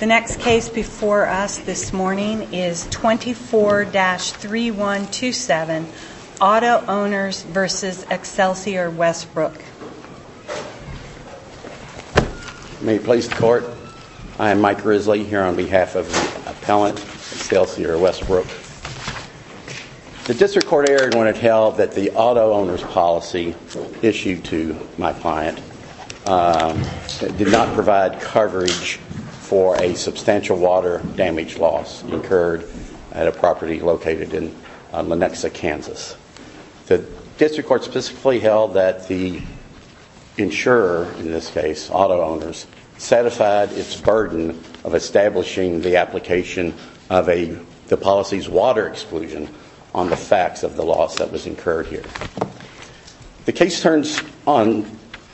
The next case before us this morning is 24-3127 Auto-Owners v. Excelsior Westbrook May it please the court, I am Mike Risley here on behalf of the appellant Excelsior Westbrook. The District Court erred when it held that the auto-owners policy issued to my client did not provide coverage for a substantial water damage loss incurred at a property located in Lenexa, Kansas. The District Court specifically held that the insurer in this case, auto-owners, satisfied its burden of establishing the application of the policy's water exclusion on the facts of the loss that was incurred here. The case turns on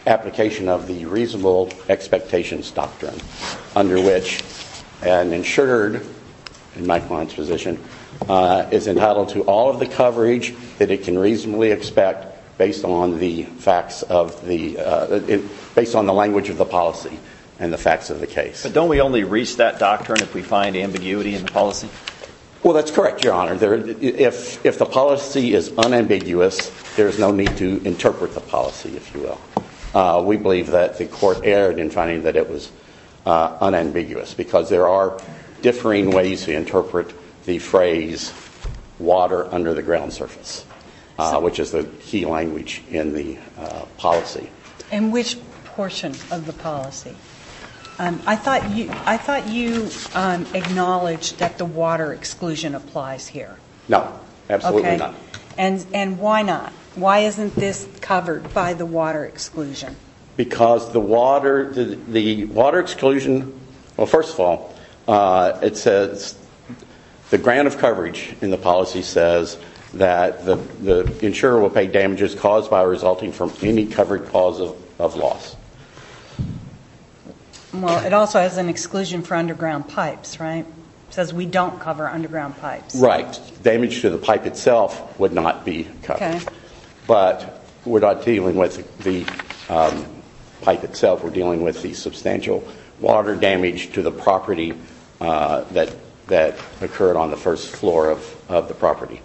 application of the reasonable expectations doctrine under which an insured, in my client's position, is entitled to all of the coverage that it can reasonably expect based on the facts of the, based on the language of the policy and the facts of the case. But don't we only reach that doctrine if we find ambiguity in the policy? Well that's correct, your honor. If the policy is unambiguous, there is no need to interpret the policy, if you will. We believe that the court erred in finding that it was unambiguous because there are differing ways to interpret the phrase, water under the ground surface, which is the key language in the policy. In which portion of the policy? I thought you acknowledged that the water exclusion applies here. No, absolutely not. And why not? Why isn't this covered by the water exclusion? Because the water exclusion, well first of all, it says, the grant of coverage in the policy says that the insurer will pay damages caused by resulting from any covered cause of loss. Well it also has an exclusion for underground pipes, right? It says we don't cover underground pipes. Right. Damage to the pipe itself would not be covered. Okay. But we're not dealing with the pipe itself, we're dealing with the substantial water damage to the property that occurred on the first floor of the property.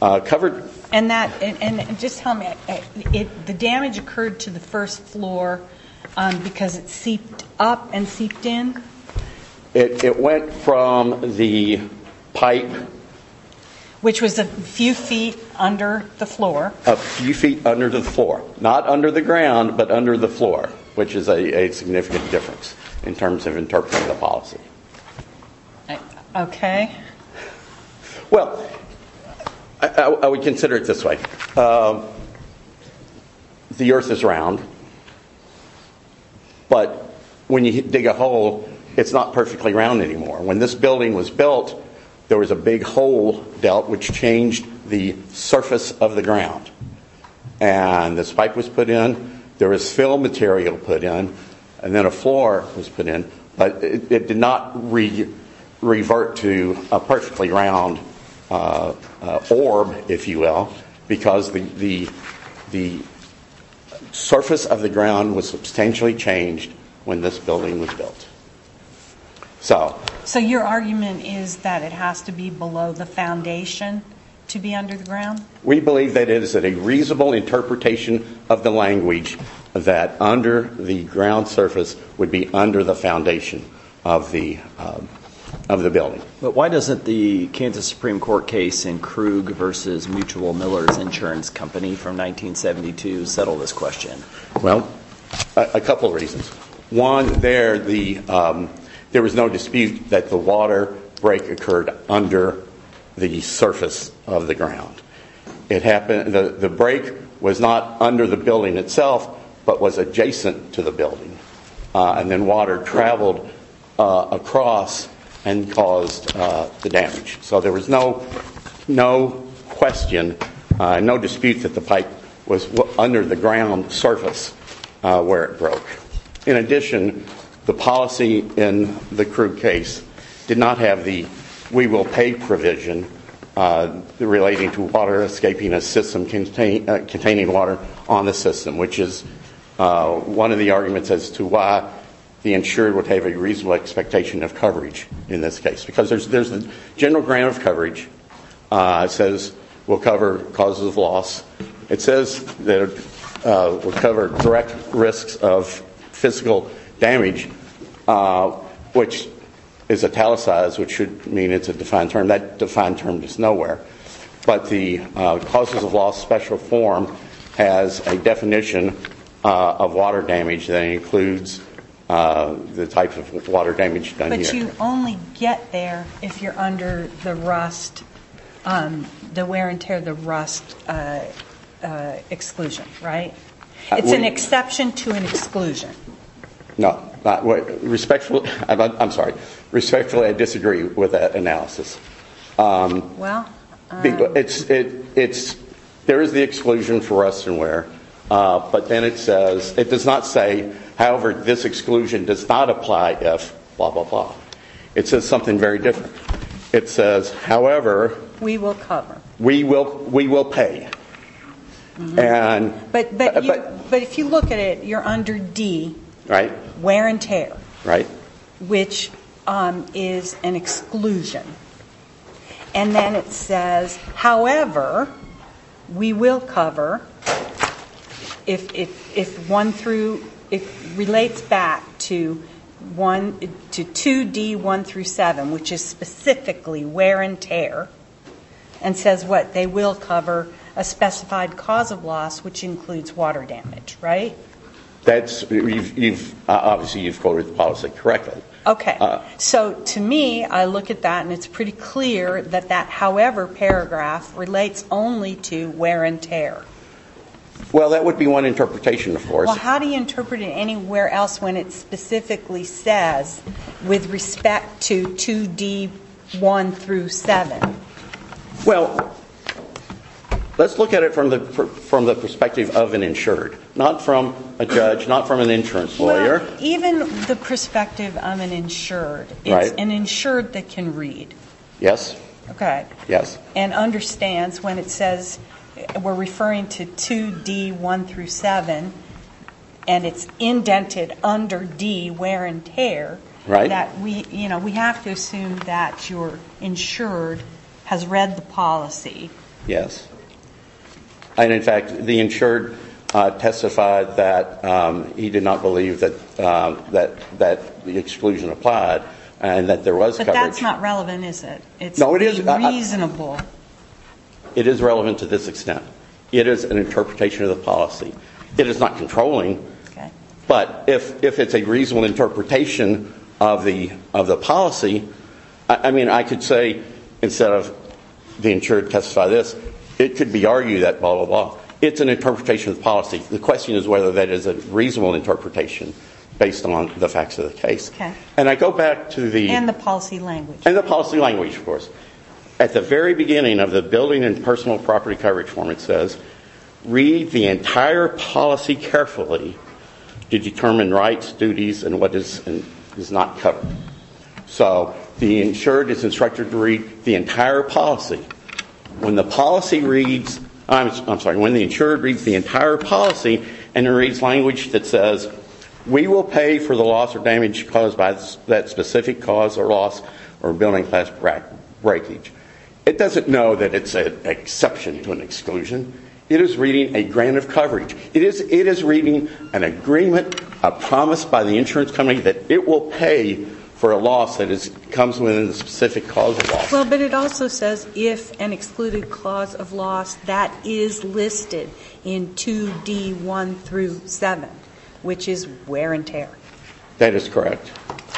And just tell me, the damage occurred to the first floor because it seeped up and seeped in? It went from the pipe. Which was a few feet under the floor. A few feet under the floor. Not under the ground, but under the floor, which is a significant difference in terms of interpreting the policy. Okay. Well, I would consider it this way. The earth is round, but when you dig a hole, it's not perfectly round anymore. When this building was built, there was a big hole dealt which changed the surface of the ground. And the spike was put in, there was fill material put in, and then a floor was put in, but it did not revert to a perfectly round orb, if you will, because the surface of the ground was substantially changed when this building was built. So your argument is that it has to be below the foundation to be under the ground? We believe that it is a reasonable interpretation of the language that under the ground surface would be under the foundation of the building. But why doesn't the Kansas Supreme Court case in Krug versus Mutual Millers Insurance Company from 1972 settle this question? Well, a couple of reasons. One, there was no dispute that the water break occurred under the surface of the ground. The break was not under the building itself, but was adjacent to the building. And then water traveled across and caused the damage. So there was no question, no dispute that the pipe was under the ground surface where it broke. In addition, the policy in the Krug case did not have the we will pay provision relating to water escaping a system containing water on the system, which is one of the arguments as to why the insurer would have a reasonable expectation of coverage in this case. Because there's the general program of coverage. It says we'll cover causes of loss. It says we'll cover direct risks of physical damage, which is italicized, which should mean it's a defined term. That defined term is nowhere. But the causes of loss special form has a definition of water damage that includes the type of water damage done here. But you only get there if you're under the rust, the wear and tear, the rust exclusion, right? It's an exception to an exclusion. No. Respectfully, I'm sorry. Respectfully, I disagree with that analysis. There is the exclusion for rust and wear. But then it says, it does not say, however, this exclusion does not apply if blah, blah, blah. It says something very different. It says, however, we will pay. But if you look at it, you're under D, wear and tear, which is an exclusion. And then it says, however, we will cover if related back to 2D1-7, which is specifically wear and tear, and says, what, they will cover a specified cause of loss, which includes water damage, right? Obviously, you've quoted the policy correctly. Okay. So to me, I look at that and it's pretty clear that that however paragraph relates only to wear and tear. Well that would be one interpretation, of course. Well, how do you interpret it anywhere else when it specifically says, with respect to 2D1-7? Well, let's look at it from the perspective of an insured. Not from a judge, not from an insurance lawyer. Well, even the perspective of an insured, it's an insured that can read. Yes. Okay. And understands when it says, we're referring to 2D1-7, and it's indented under D, wear and tear, that we have to assume that your insured has read the policy. Yes. And in fact, the insured testified that he did not believe that the exclusion applied, and that there was coverage. That's not relevant, is it? No, it is. It's unreasonable. It is relevant to this extent. It is an interpretation of the policy. It is not controlling, but if it's a reasonable interpretation of the policy, I mean, I could say, instead of the insured testified this, it could be argued that blah, blah, blah. It's an interpretation of the policy. The question is whether that is a reasonable interpretation based on the facts of the case. And I go back to the policy language. And the policy language, of course. At the very beginning of the building and personal property coverage form, it says, read the entire policy carefully to determine rights, duties, and what is not covered. So the insured is instructed to read the entire policy. When the policy reads, I'm sorry, when the insured reads the entire policy, and it reads language that says, we will pay for the loss or damage caused by that specific cause or loss or building class breakage. It doesn't know that it's an exception to an exclusion. It is reading a grant of coverage. It is reading an agreement, a promise by the insurance company that it will pay for a loss that comes within the specific cause of loss. Well, but it also says, if an excluded cause of loss, that is listed in 2D1 through 7, which is wear and tear. That is correct.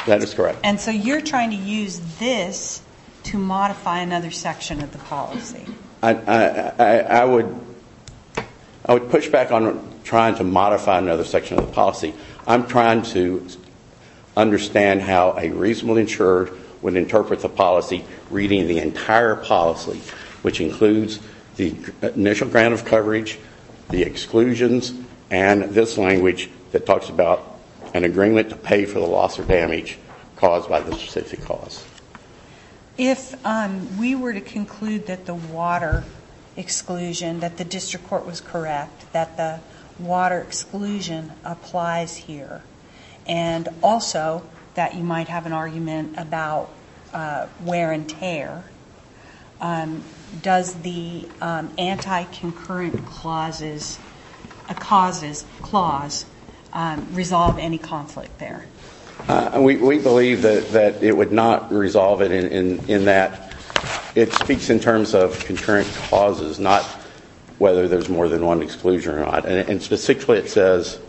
That is correct. And so you're trying to use this to modify another section of the policy. I would push back on trying to modify another section of the policy. I'm trying to understand how a reasonable insured would interpret the policy reading the entire policy, which includes the initial grant of coverage, the exclusions, and this language that talks about an agreement to pay for the loss or damage caused by the specific cause. If we were to conclude that the water exclusion, that the district court was correct, that the water exclusion applies here, and also that you might have an argument about wear and tear, does the anti-concurrent causes clause resolve any conflict there? We believe that it would not resolve it in that it speaks in terms of concurrent causes, not whether there's more than one exclusion or not. And specifically it says,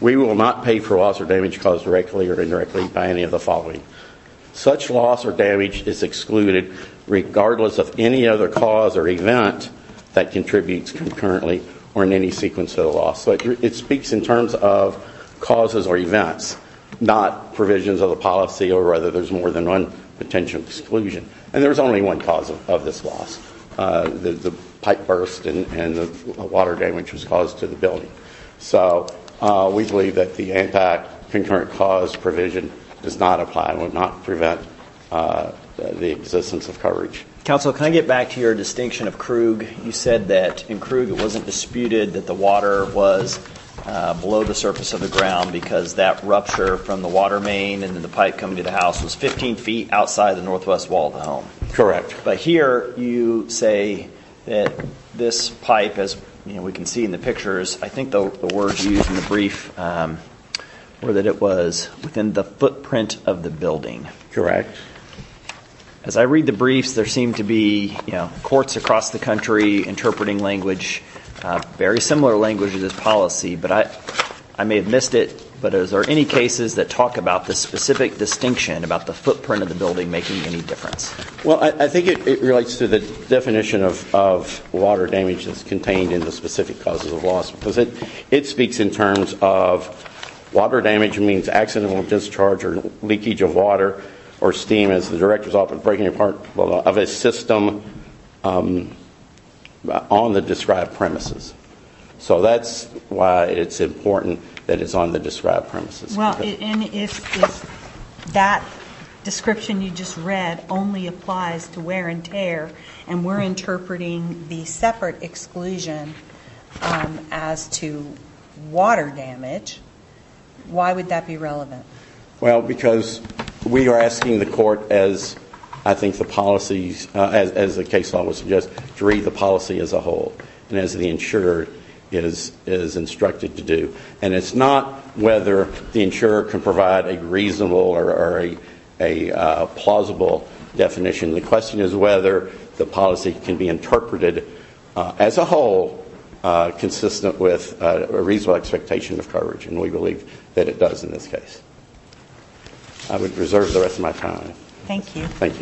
we will not pay for loss or damage caused directly or indirectly by any of the following. Such loss or damage is excluded regardless of any other cause or event that contributes concurrently or in any sequence of the loss. It speaks in terms of causes or events, not provisions of the policy or whether there's more than one potential exclusion. And there's only one cause of this loss, the pipe burst and the water damage that was caused to the building. So we believe that the anti-concurrent cause provision does not apply and would not prevent the existence of coverage. Counsel, can I get back to your distinction of Krug? You said that in Krug it wasn't disputed that the water was below the surface of the ground because that rupture from the water main and then the pipe coming to the house was 15 feet outside of the northwest wall of the home. Correct. But here you say that this pipe, as we can see in the pictures, I think the words used in the brief were that it was within the footprint of the building. Correct. As I read the briefs, there seem to be courts across the country interpreting language, very similar language to this policy, but I may have missed it. But are there any cases that talk about this specific distinction about the footprint of the building making any difference? Well, I think it relates to the definition of water damage that's contained in the specific causes of loss because it speaks in terms of water damage means accidental discharge or leakage of water or steam as the director is often breaking apart of a system on the described premises. So that's why it's important that it's on the described premises. Well, and if that description you just read only applies to wear and tear and we're interpreting the separate exclusion as to water damage, why would that be relevant? Well, because we are asking the court, as I think the policy, as the case law would suggest, to read the policy as a whole and as the insurer is instructed to do. And it's not whether the insurer can provide a reasonable or a plausible definition. The question is whether the policy can be interpreted as a whole consistent with a reasonable expectation of coverage. And we believe that it does in this case. I would reserve the rest of my time. All right.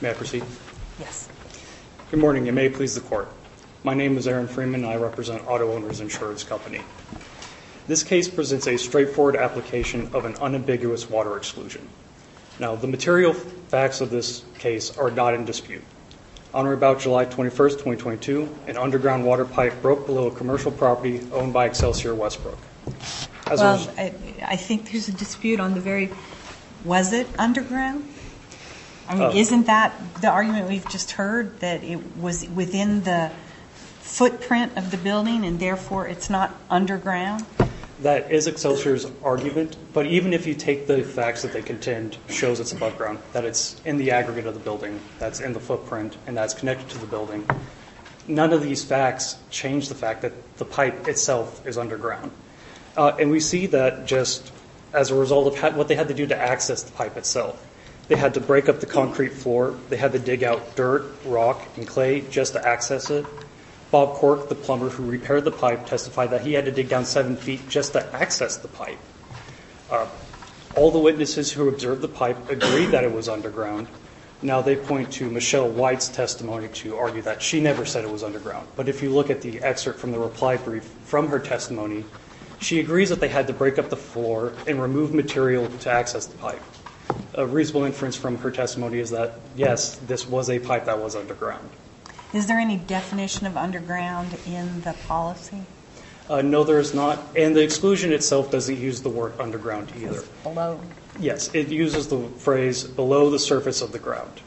May I proceed? Good morning. You may please the court. My name is Aaron Freeman and I represent Auto Owners Insurance Company. This case presents a straightforward application of an unambiguous water exclusion. Now, the material facts of this case are not in dispute. On or about July 21st, 2022, an underground water pipe broke below a commercial property owned by Excelsior Westbrook. Well, I think there's a dispute on the very, was it underground? Isn't that the argument we've just heard, that it was within the footprint of the building and therefore it's not underground? That is Excelsior's argument. But even if you take the facts that they contend shows it's above ground, that it's in the aggregate of the building, that's in the footprint, and that's connected to the building, none of these facts change the fact that the pipe itself is underground. And we see that just as a result of what they had to do to access the pipe itself. They had to break up the concrete floor. They had to dig out dirt, rock, and clay just to access it. Bob Cork, the plumber who repaired the pipe, testified that he had to dig down seven feet just to access the pipe. All the witnesses who observed the pipe agreed that it was underground. Now they point to Michelle White's testimony to argue that she never said it was underground. But if you look at the excerpt from the reply brief from her testimony, she agrees that they had to break up the floor and remove material to access the pipe. A reasonable inference from her testimony is that, yes, this was a pipe that was underground. Is there any definition of underground in the policy? No, there is not. And the exclusion itself doesn't use the word underground either. Yes, it uses the phrase below the surface of the ground.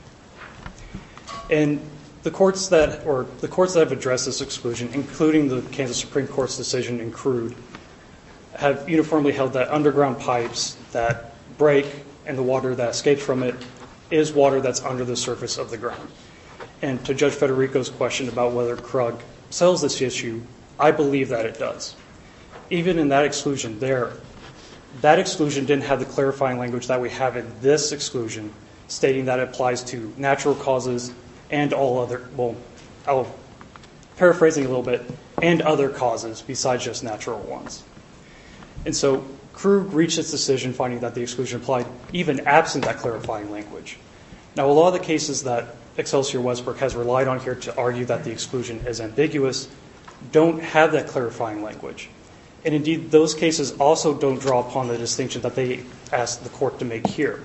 And the courts that have addressed this exclusion, including the Kansas Supreme Court's decision in Crude, have uniformly held that underground pipes that break and the water that escapes from it is water that's under the surface of the ground. And to Judge Federico's question about whether Krug sells this issue, I believe that it does. Even in that exclusion there, that exclusion didn't have the clarifying language that we have in this exclusion stating that it applies to natural causes and all other, well, I'll paraphrase it a little bit, and other causes besides just natural ones. And so Krug reached its decision finding that the exclusion applied even absent that clarifying language. Now a lot of the cases that Excelsior Westbrook has relied on here to argue that the exclusion is ambiguous don't have that clarifying language. And indeed those cases also don't draw upon the distinction that they asked the court to make here.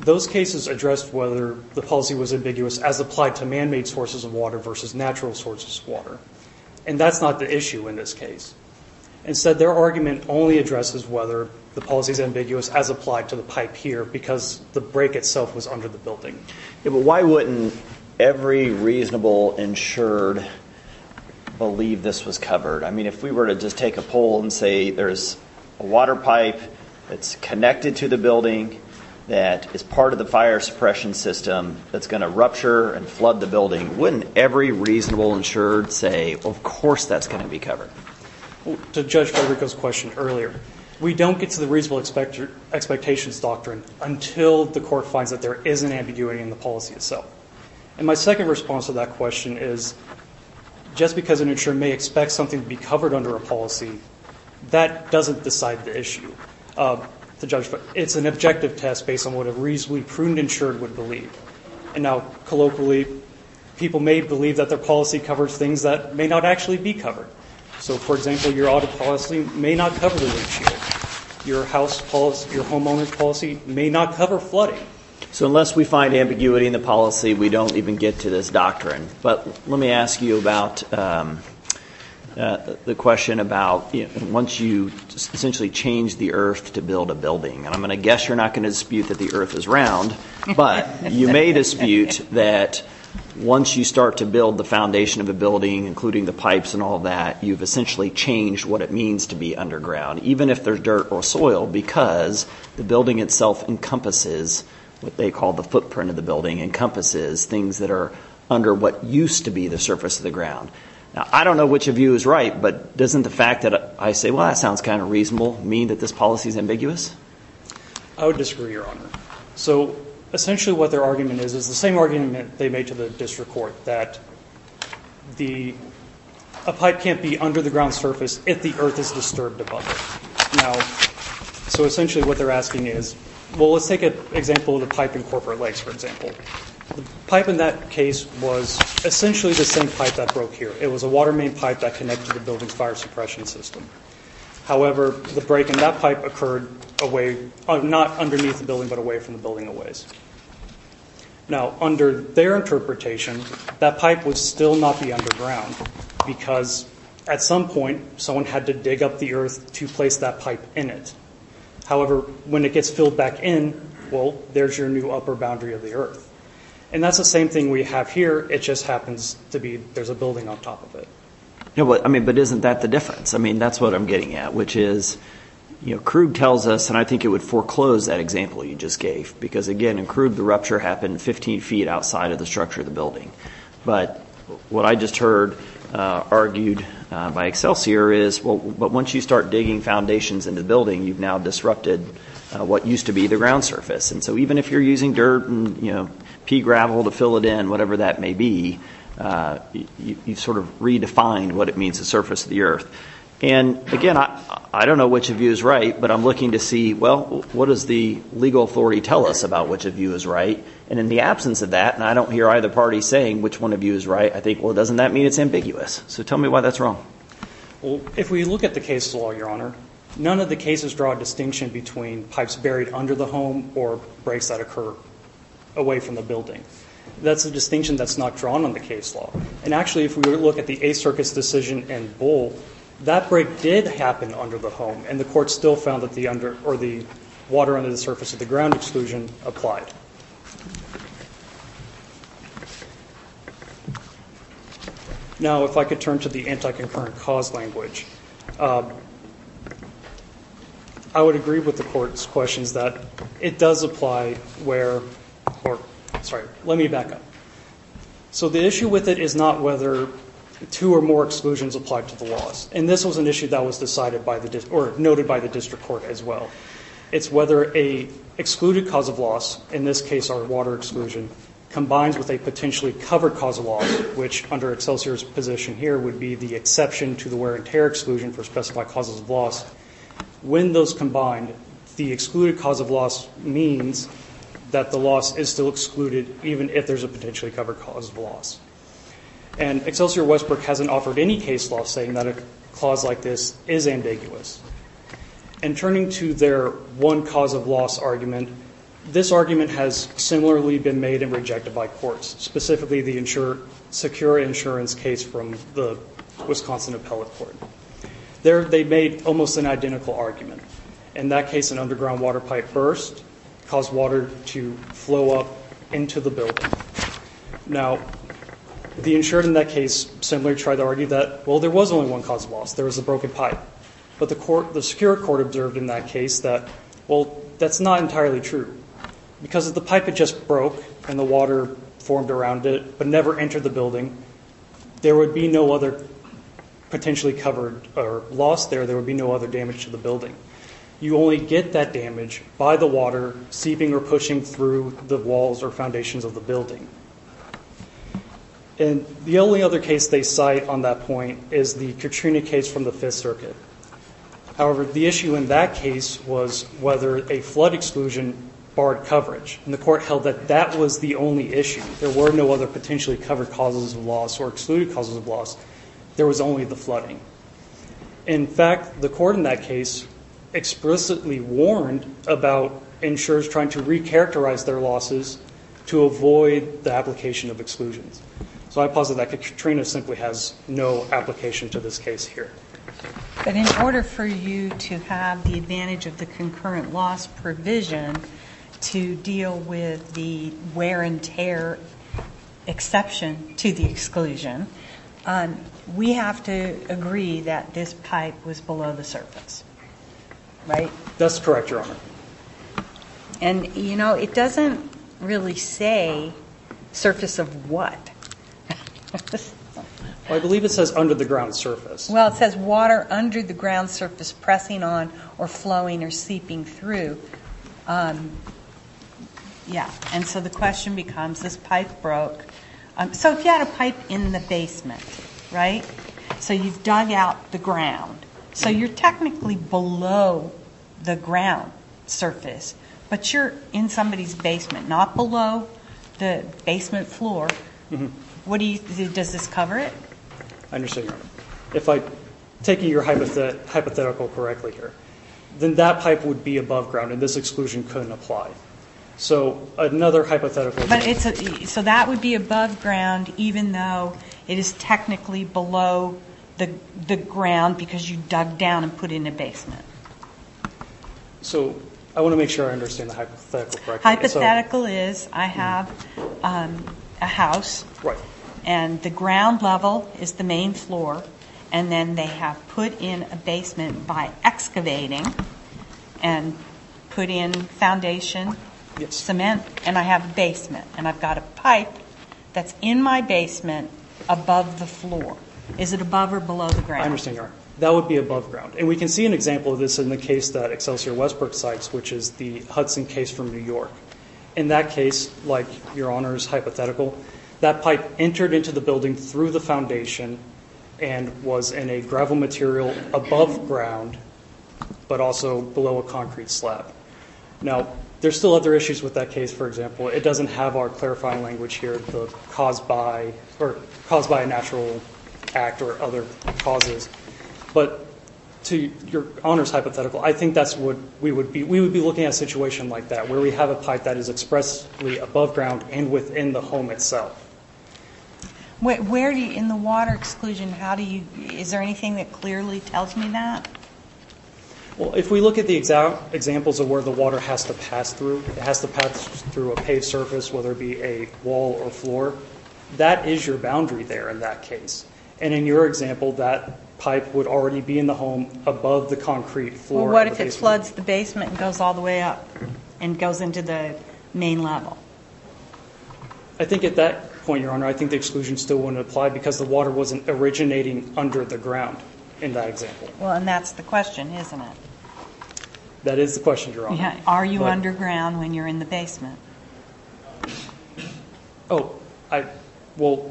Those cases addressed whether the policy was ambiguous as applied to man-made sources of water versus natural sources of water. And that's not the issue in this case. Instead their argument only addresses whether the policy is ambiguous as applied to the pipe here because the break itself was under the building. Yeah, but why wouldn't every reasonable insured believe this was covered? I mean, if we were to just take a poll and say there's a water pipe that's connected to the building that is part of the fire suppression system that's going to rupture and flood the building, wouldn't every reasonable insured say, of course that's going to be covered? To Judge Federico's question earlier, we don't get to the reasonable expectations doctrine until the court finds that there is an ambiguity in the policy itself. And my second response to that question is, just because an insured may expect something to be covered under a policy, that doesn't decide the issue. It's an objective test based on what a reasonably pruned insured would believe. And now, colloquially, people may believe that their policy covers things that may not actually be covered. So, for example, your audit policy may not cover a reasonably pruned insured. Your homeowner's policy may not cover flooding. So unless we find ambiguity in the policy, we don't even get to this doctrine. But let me ask you about the question about once you essentially change the earth to build a building. And I'm going to guess you're not going to dispute that the earth is round, but you may dispute that once you start to build the foundation of a building, including the pipes and all that, you've essentially changed what it means to be underground, even if there's dirt or soil, because the building itself encompasses what they call the footprint of the building, encompasses things that are under what used to be the surface of the ground. Now, I don't know which of you is right, but doesn't the fact that I say, well, that sounds kind of reasonable, mean that this policy is ambiguous? I would disagree, Your Honor. So essentially what their argument is, is the same argument they made to the district court, that a pipe can't be under the ground surface if the earth is disturbed above it. Now, so essentially what they're asking is, well, let's take an example of the pipe in Corporate Lakes, for example. The pipe in that case was essentially the same pipe that broke here. It was a water main pipe that connected the building's fire suppression system. However, the break in that pipe occurred away, not underneath the building, but away from the building a ways. Now, under their interpretation, that pipe would still not be underground, because at some point, someone had to dig up the earth to place that pipe in it. However, when it gets filled back in, well, there's your new upper boundary of the earth. And that's the same thing we have here. It just happens to be there's a building on top of it. But isn't that the difference? I mean, that's what I'm getting at, which is, you know, Krug tells us, and I think it would foreclose that example you just gave, because again, in Krug the rupture happened 15 feet outside of the structure of the building. But what I just heard argued by Excelsior is, well, but once you start digging foundations into the building, you've now disrupted what used to be the ground surface. And so even if you're using dirt and, you know, pea gravel to fill it in, whatever that may be, you've sort of redefined what it means to surface the earth. And again, I don't know which of you is right, but I'm looking to see, well, what does the legal authority tell us about which of you is right? And in the absence of that, and I don't hear either party saying which one of you is right, I think, well, doesn't that mean it's ambiguous? So tell me why that's wrong. If we look at the case law, Your Honor, none of the cases draw a distinction between pipes buried under the home or breaks that occur away from the building. That's a distinction that's not drawn on the case law. And actually, if we were to look at the A Circus decision and Bull, that break did happen under the home, and the court still found that the under or the water under the surface of the ground exclusion applied. Now if I could turn to the anti-concurrent cause language. I would agree with the court's questions that it does apply where, or, sorry, let me back up. So the issue with it is not whether two or more exclusions apply to the loss. And this was an issue that was decided by the, or noted by the district court as well. It's whether a excluded cause of loss, in this case our water exclusion, combines with a potentially covered cause of loss, which under Excelsior's position here would be the exception to the wear and tear exclusion for specified causes of loss. When those combine, the excluded cause of loss means that the loss is still excluded, even if there's a potentially covered cause of loss. And Excelsior Westbrook hasn't offered any case law saying that a clause like this is ambiguous. And turning to their one cause of loss argument, this argument has similarly been made and rejected by courts, specifically the secure insurance case from the Wisconsin Appellate Court. They made almost an identical argument. In that case, an underground water pipe burst caused water to flow up into the building. Now, the insurer in that case similarly tried to argue that, well, there was only one cause of loss. There was a broken pipe. But the secure court observed in that case that, well, that's not entirely true. Because if the pipe had just broke and the water formed around it but never entered the building, there would be no other potentially covered loss there. There would be no other damage to the building. You only get that damage by the water seeping or pushing through the walls or foundations of the building. And the only other case they cite on that point is the Katrina case from the Fifth Circuit. However, the issue in that case was whether a flood exclusion barred coverage. And the court held that that was the only issue. There were no other potentially covered causes of loss or excluded causes of loss. There was only the flooding. In fact, the court in that case explicitly warned about insurers trying to recharacterize their losses to avoid the application of exclusions. So I posit that Katrina simply has no application to this case here. But in order for you to have the advantage of the concurrent loss provision to deal with the wear and tear exception to the exclusion, we have to agree that this pipe was below the surface. Right? That's correct, Your Honor. And you know, it doesn't really say surface of what. I believe it says under the ground surface. Well, it says water under the ground surface pressing on or flowing or seeping through. Yeah. And so the question becomes, this pipe broke. So if you had a pipe in the basement, right? So you've dug out the ground. So you're technically below the ground surface, but you're in somebody's basement, not below the basement floor. Does this cover it? I understand, Your Honor. If I'm taking your hypothetical correctly here, then that pipe would be above ground and this exclusion couldn't apply. So another hypothetical. So that would be above ground even though it is technically below the ground because you dug down and put in a basement. So I want to make sure I understand the hypothetical correctly. Hypothetical is I have a house. Right. And the ground level is the main floor and then they have put in a basement by excavating and put in foundation, cement, and I have a basement and I've got a pipe that's in my basement above the floor. Is it above or below the ground? I understand, Your Honor. That would be above ground. And we can see an example of this in the case that Excelsior Westbrook cites, which is the Hudson case from New York. In that case, like Your Honor's hypothetical, that pipe entered into the building through the foundation and was in a gravel material above ground but also below a concrete slab. Now, there's still other issues with that case, for example. It doesn't have our clarifying language here, caused by a natural act or other causes. But to Your Honor's hypothetical, I think that's what we would be. We would be looking at a situation like that, where we have a pipe that is expressly above ground and within the home itself. Where do you, in the water exclusion, how do you, is there anything that clearly tells me that? Well, if we look at the examples of where the water has to pass through, it has to pass through a paved surface, whether it be a wall or floor, that is your boundary there in that case. And in your example, that pipe would already be in the home above the concrete floor of the basement. It floods the basement and goes all the way up and goes into the main level. I think at that point, Your Honor, I think the exclusion still wouldn't apply because the water wasn't originating under the ground in that example. Well, and that's the question, isn't it? That is the question, Your Honor. Are you underground when you're in the basement? Oh, I, well,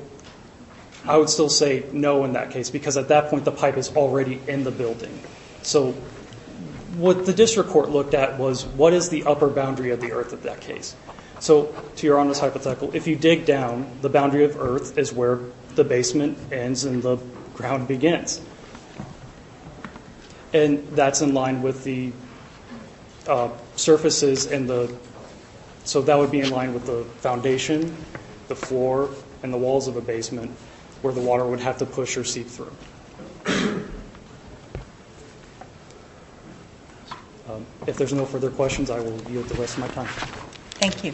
I would still say no in that case because at that point the pipe is already in the building. So what the district court looked at was what is the upper boundary of the earth in that case? So to Your Honor's hypothetical, if you dig down, the boundary of earth is where the basement ends and the ground begins. And that's in line with the surfaces and the, so that would be in line with the foundation, the floor, and the walls of a basement where the water would have to push or seep through. If there's no further questions, I will yield the rest of my time. Thank you.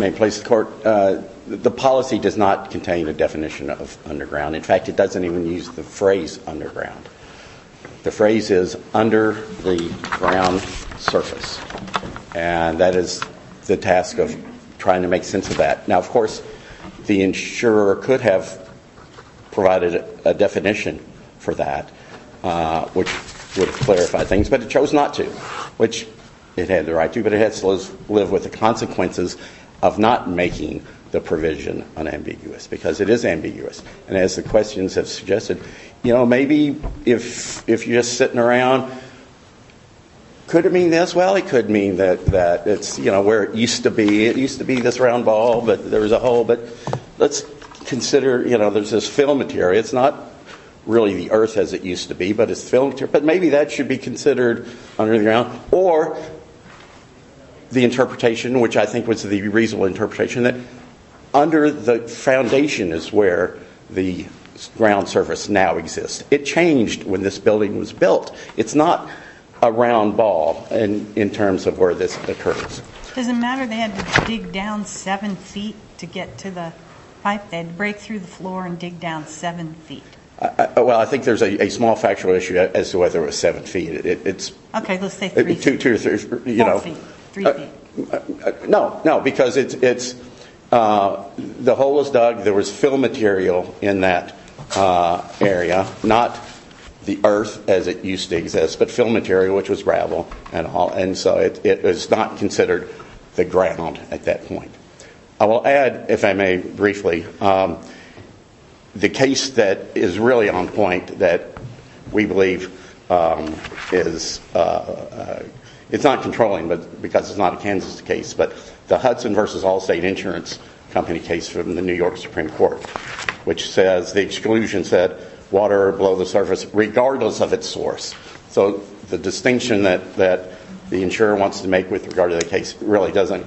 May it please the Court? The policy does not contain a definition of underground. In fact, it doesn't even use the phrase underground. The phrase is under the ground surface. And that is the task of trying to make sense of that. Now, of course, the insurer could have provided a definition for that which would clarify things, but it chose not to, which it had the right to, but it has to live with the consequences of not making the provision unambiguous because it is ambiguous. And as the questions have suggested, you know, maybe if you're just sitting around, could it mean this? Well, it could mean that it's, you know, where it used to be. It used to be this round ball, but there was a hole. But let's consider, you know, there's this film material. It's not really the earth as it used to be, but it's film material. But maybe that should be considered underground. Or the interpretation, which I think was the reasonable interpretation, that under the ground surface now exists. It changed when this building was built. It's not a round ball in terms of where this occurs. Does it matter they had to dig down seven feet to get to the pipe? They had to break through the floor and dig down seven feet. Well, I think there's a small factual issue as to whether it was seven feet. Okay, let's say three feet. Four feet, three feet. No, no, because it's, the hole was dug, there was film material in that area. Not the earth as it used to exist, but film material, which was gravel and all. And so it is not considered the ground at that point. I will add, if I may briefly, the case that is really on point that we believe is, it's not controlling because it's not a Kansas case, but the Hudson versus Allstate Insurance Company case from the New York Supreme Court, which says, the exclusion said, water below the surface regardless of its source. So the distinction that the insurer wants to make with regard to the case really doesn't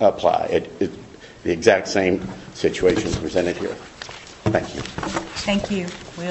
apply. It's the exact same situation presented here. Thank you. Thank you.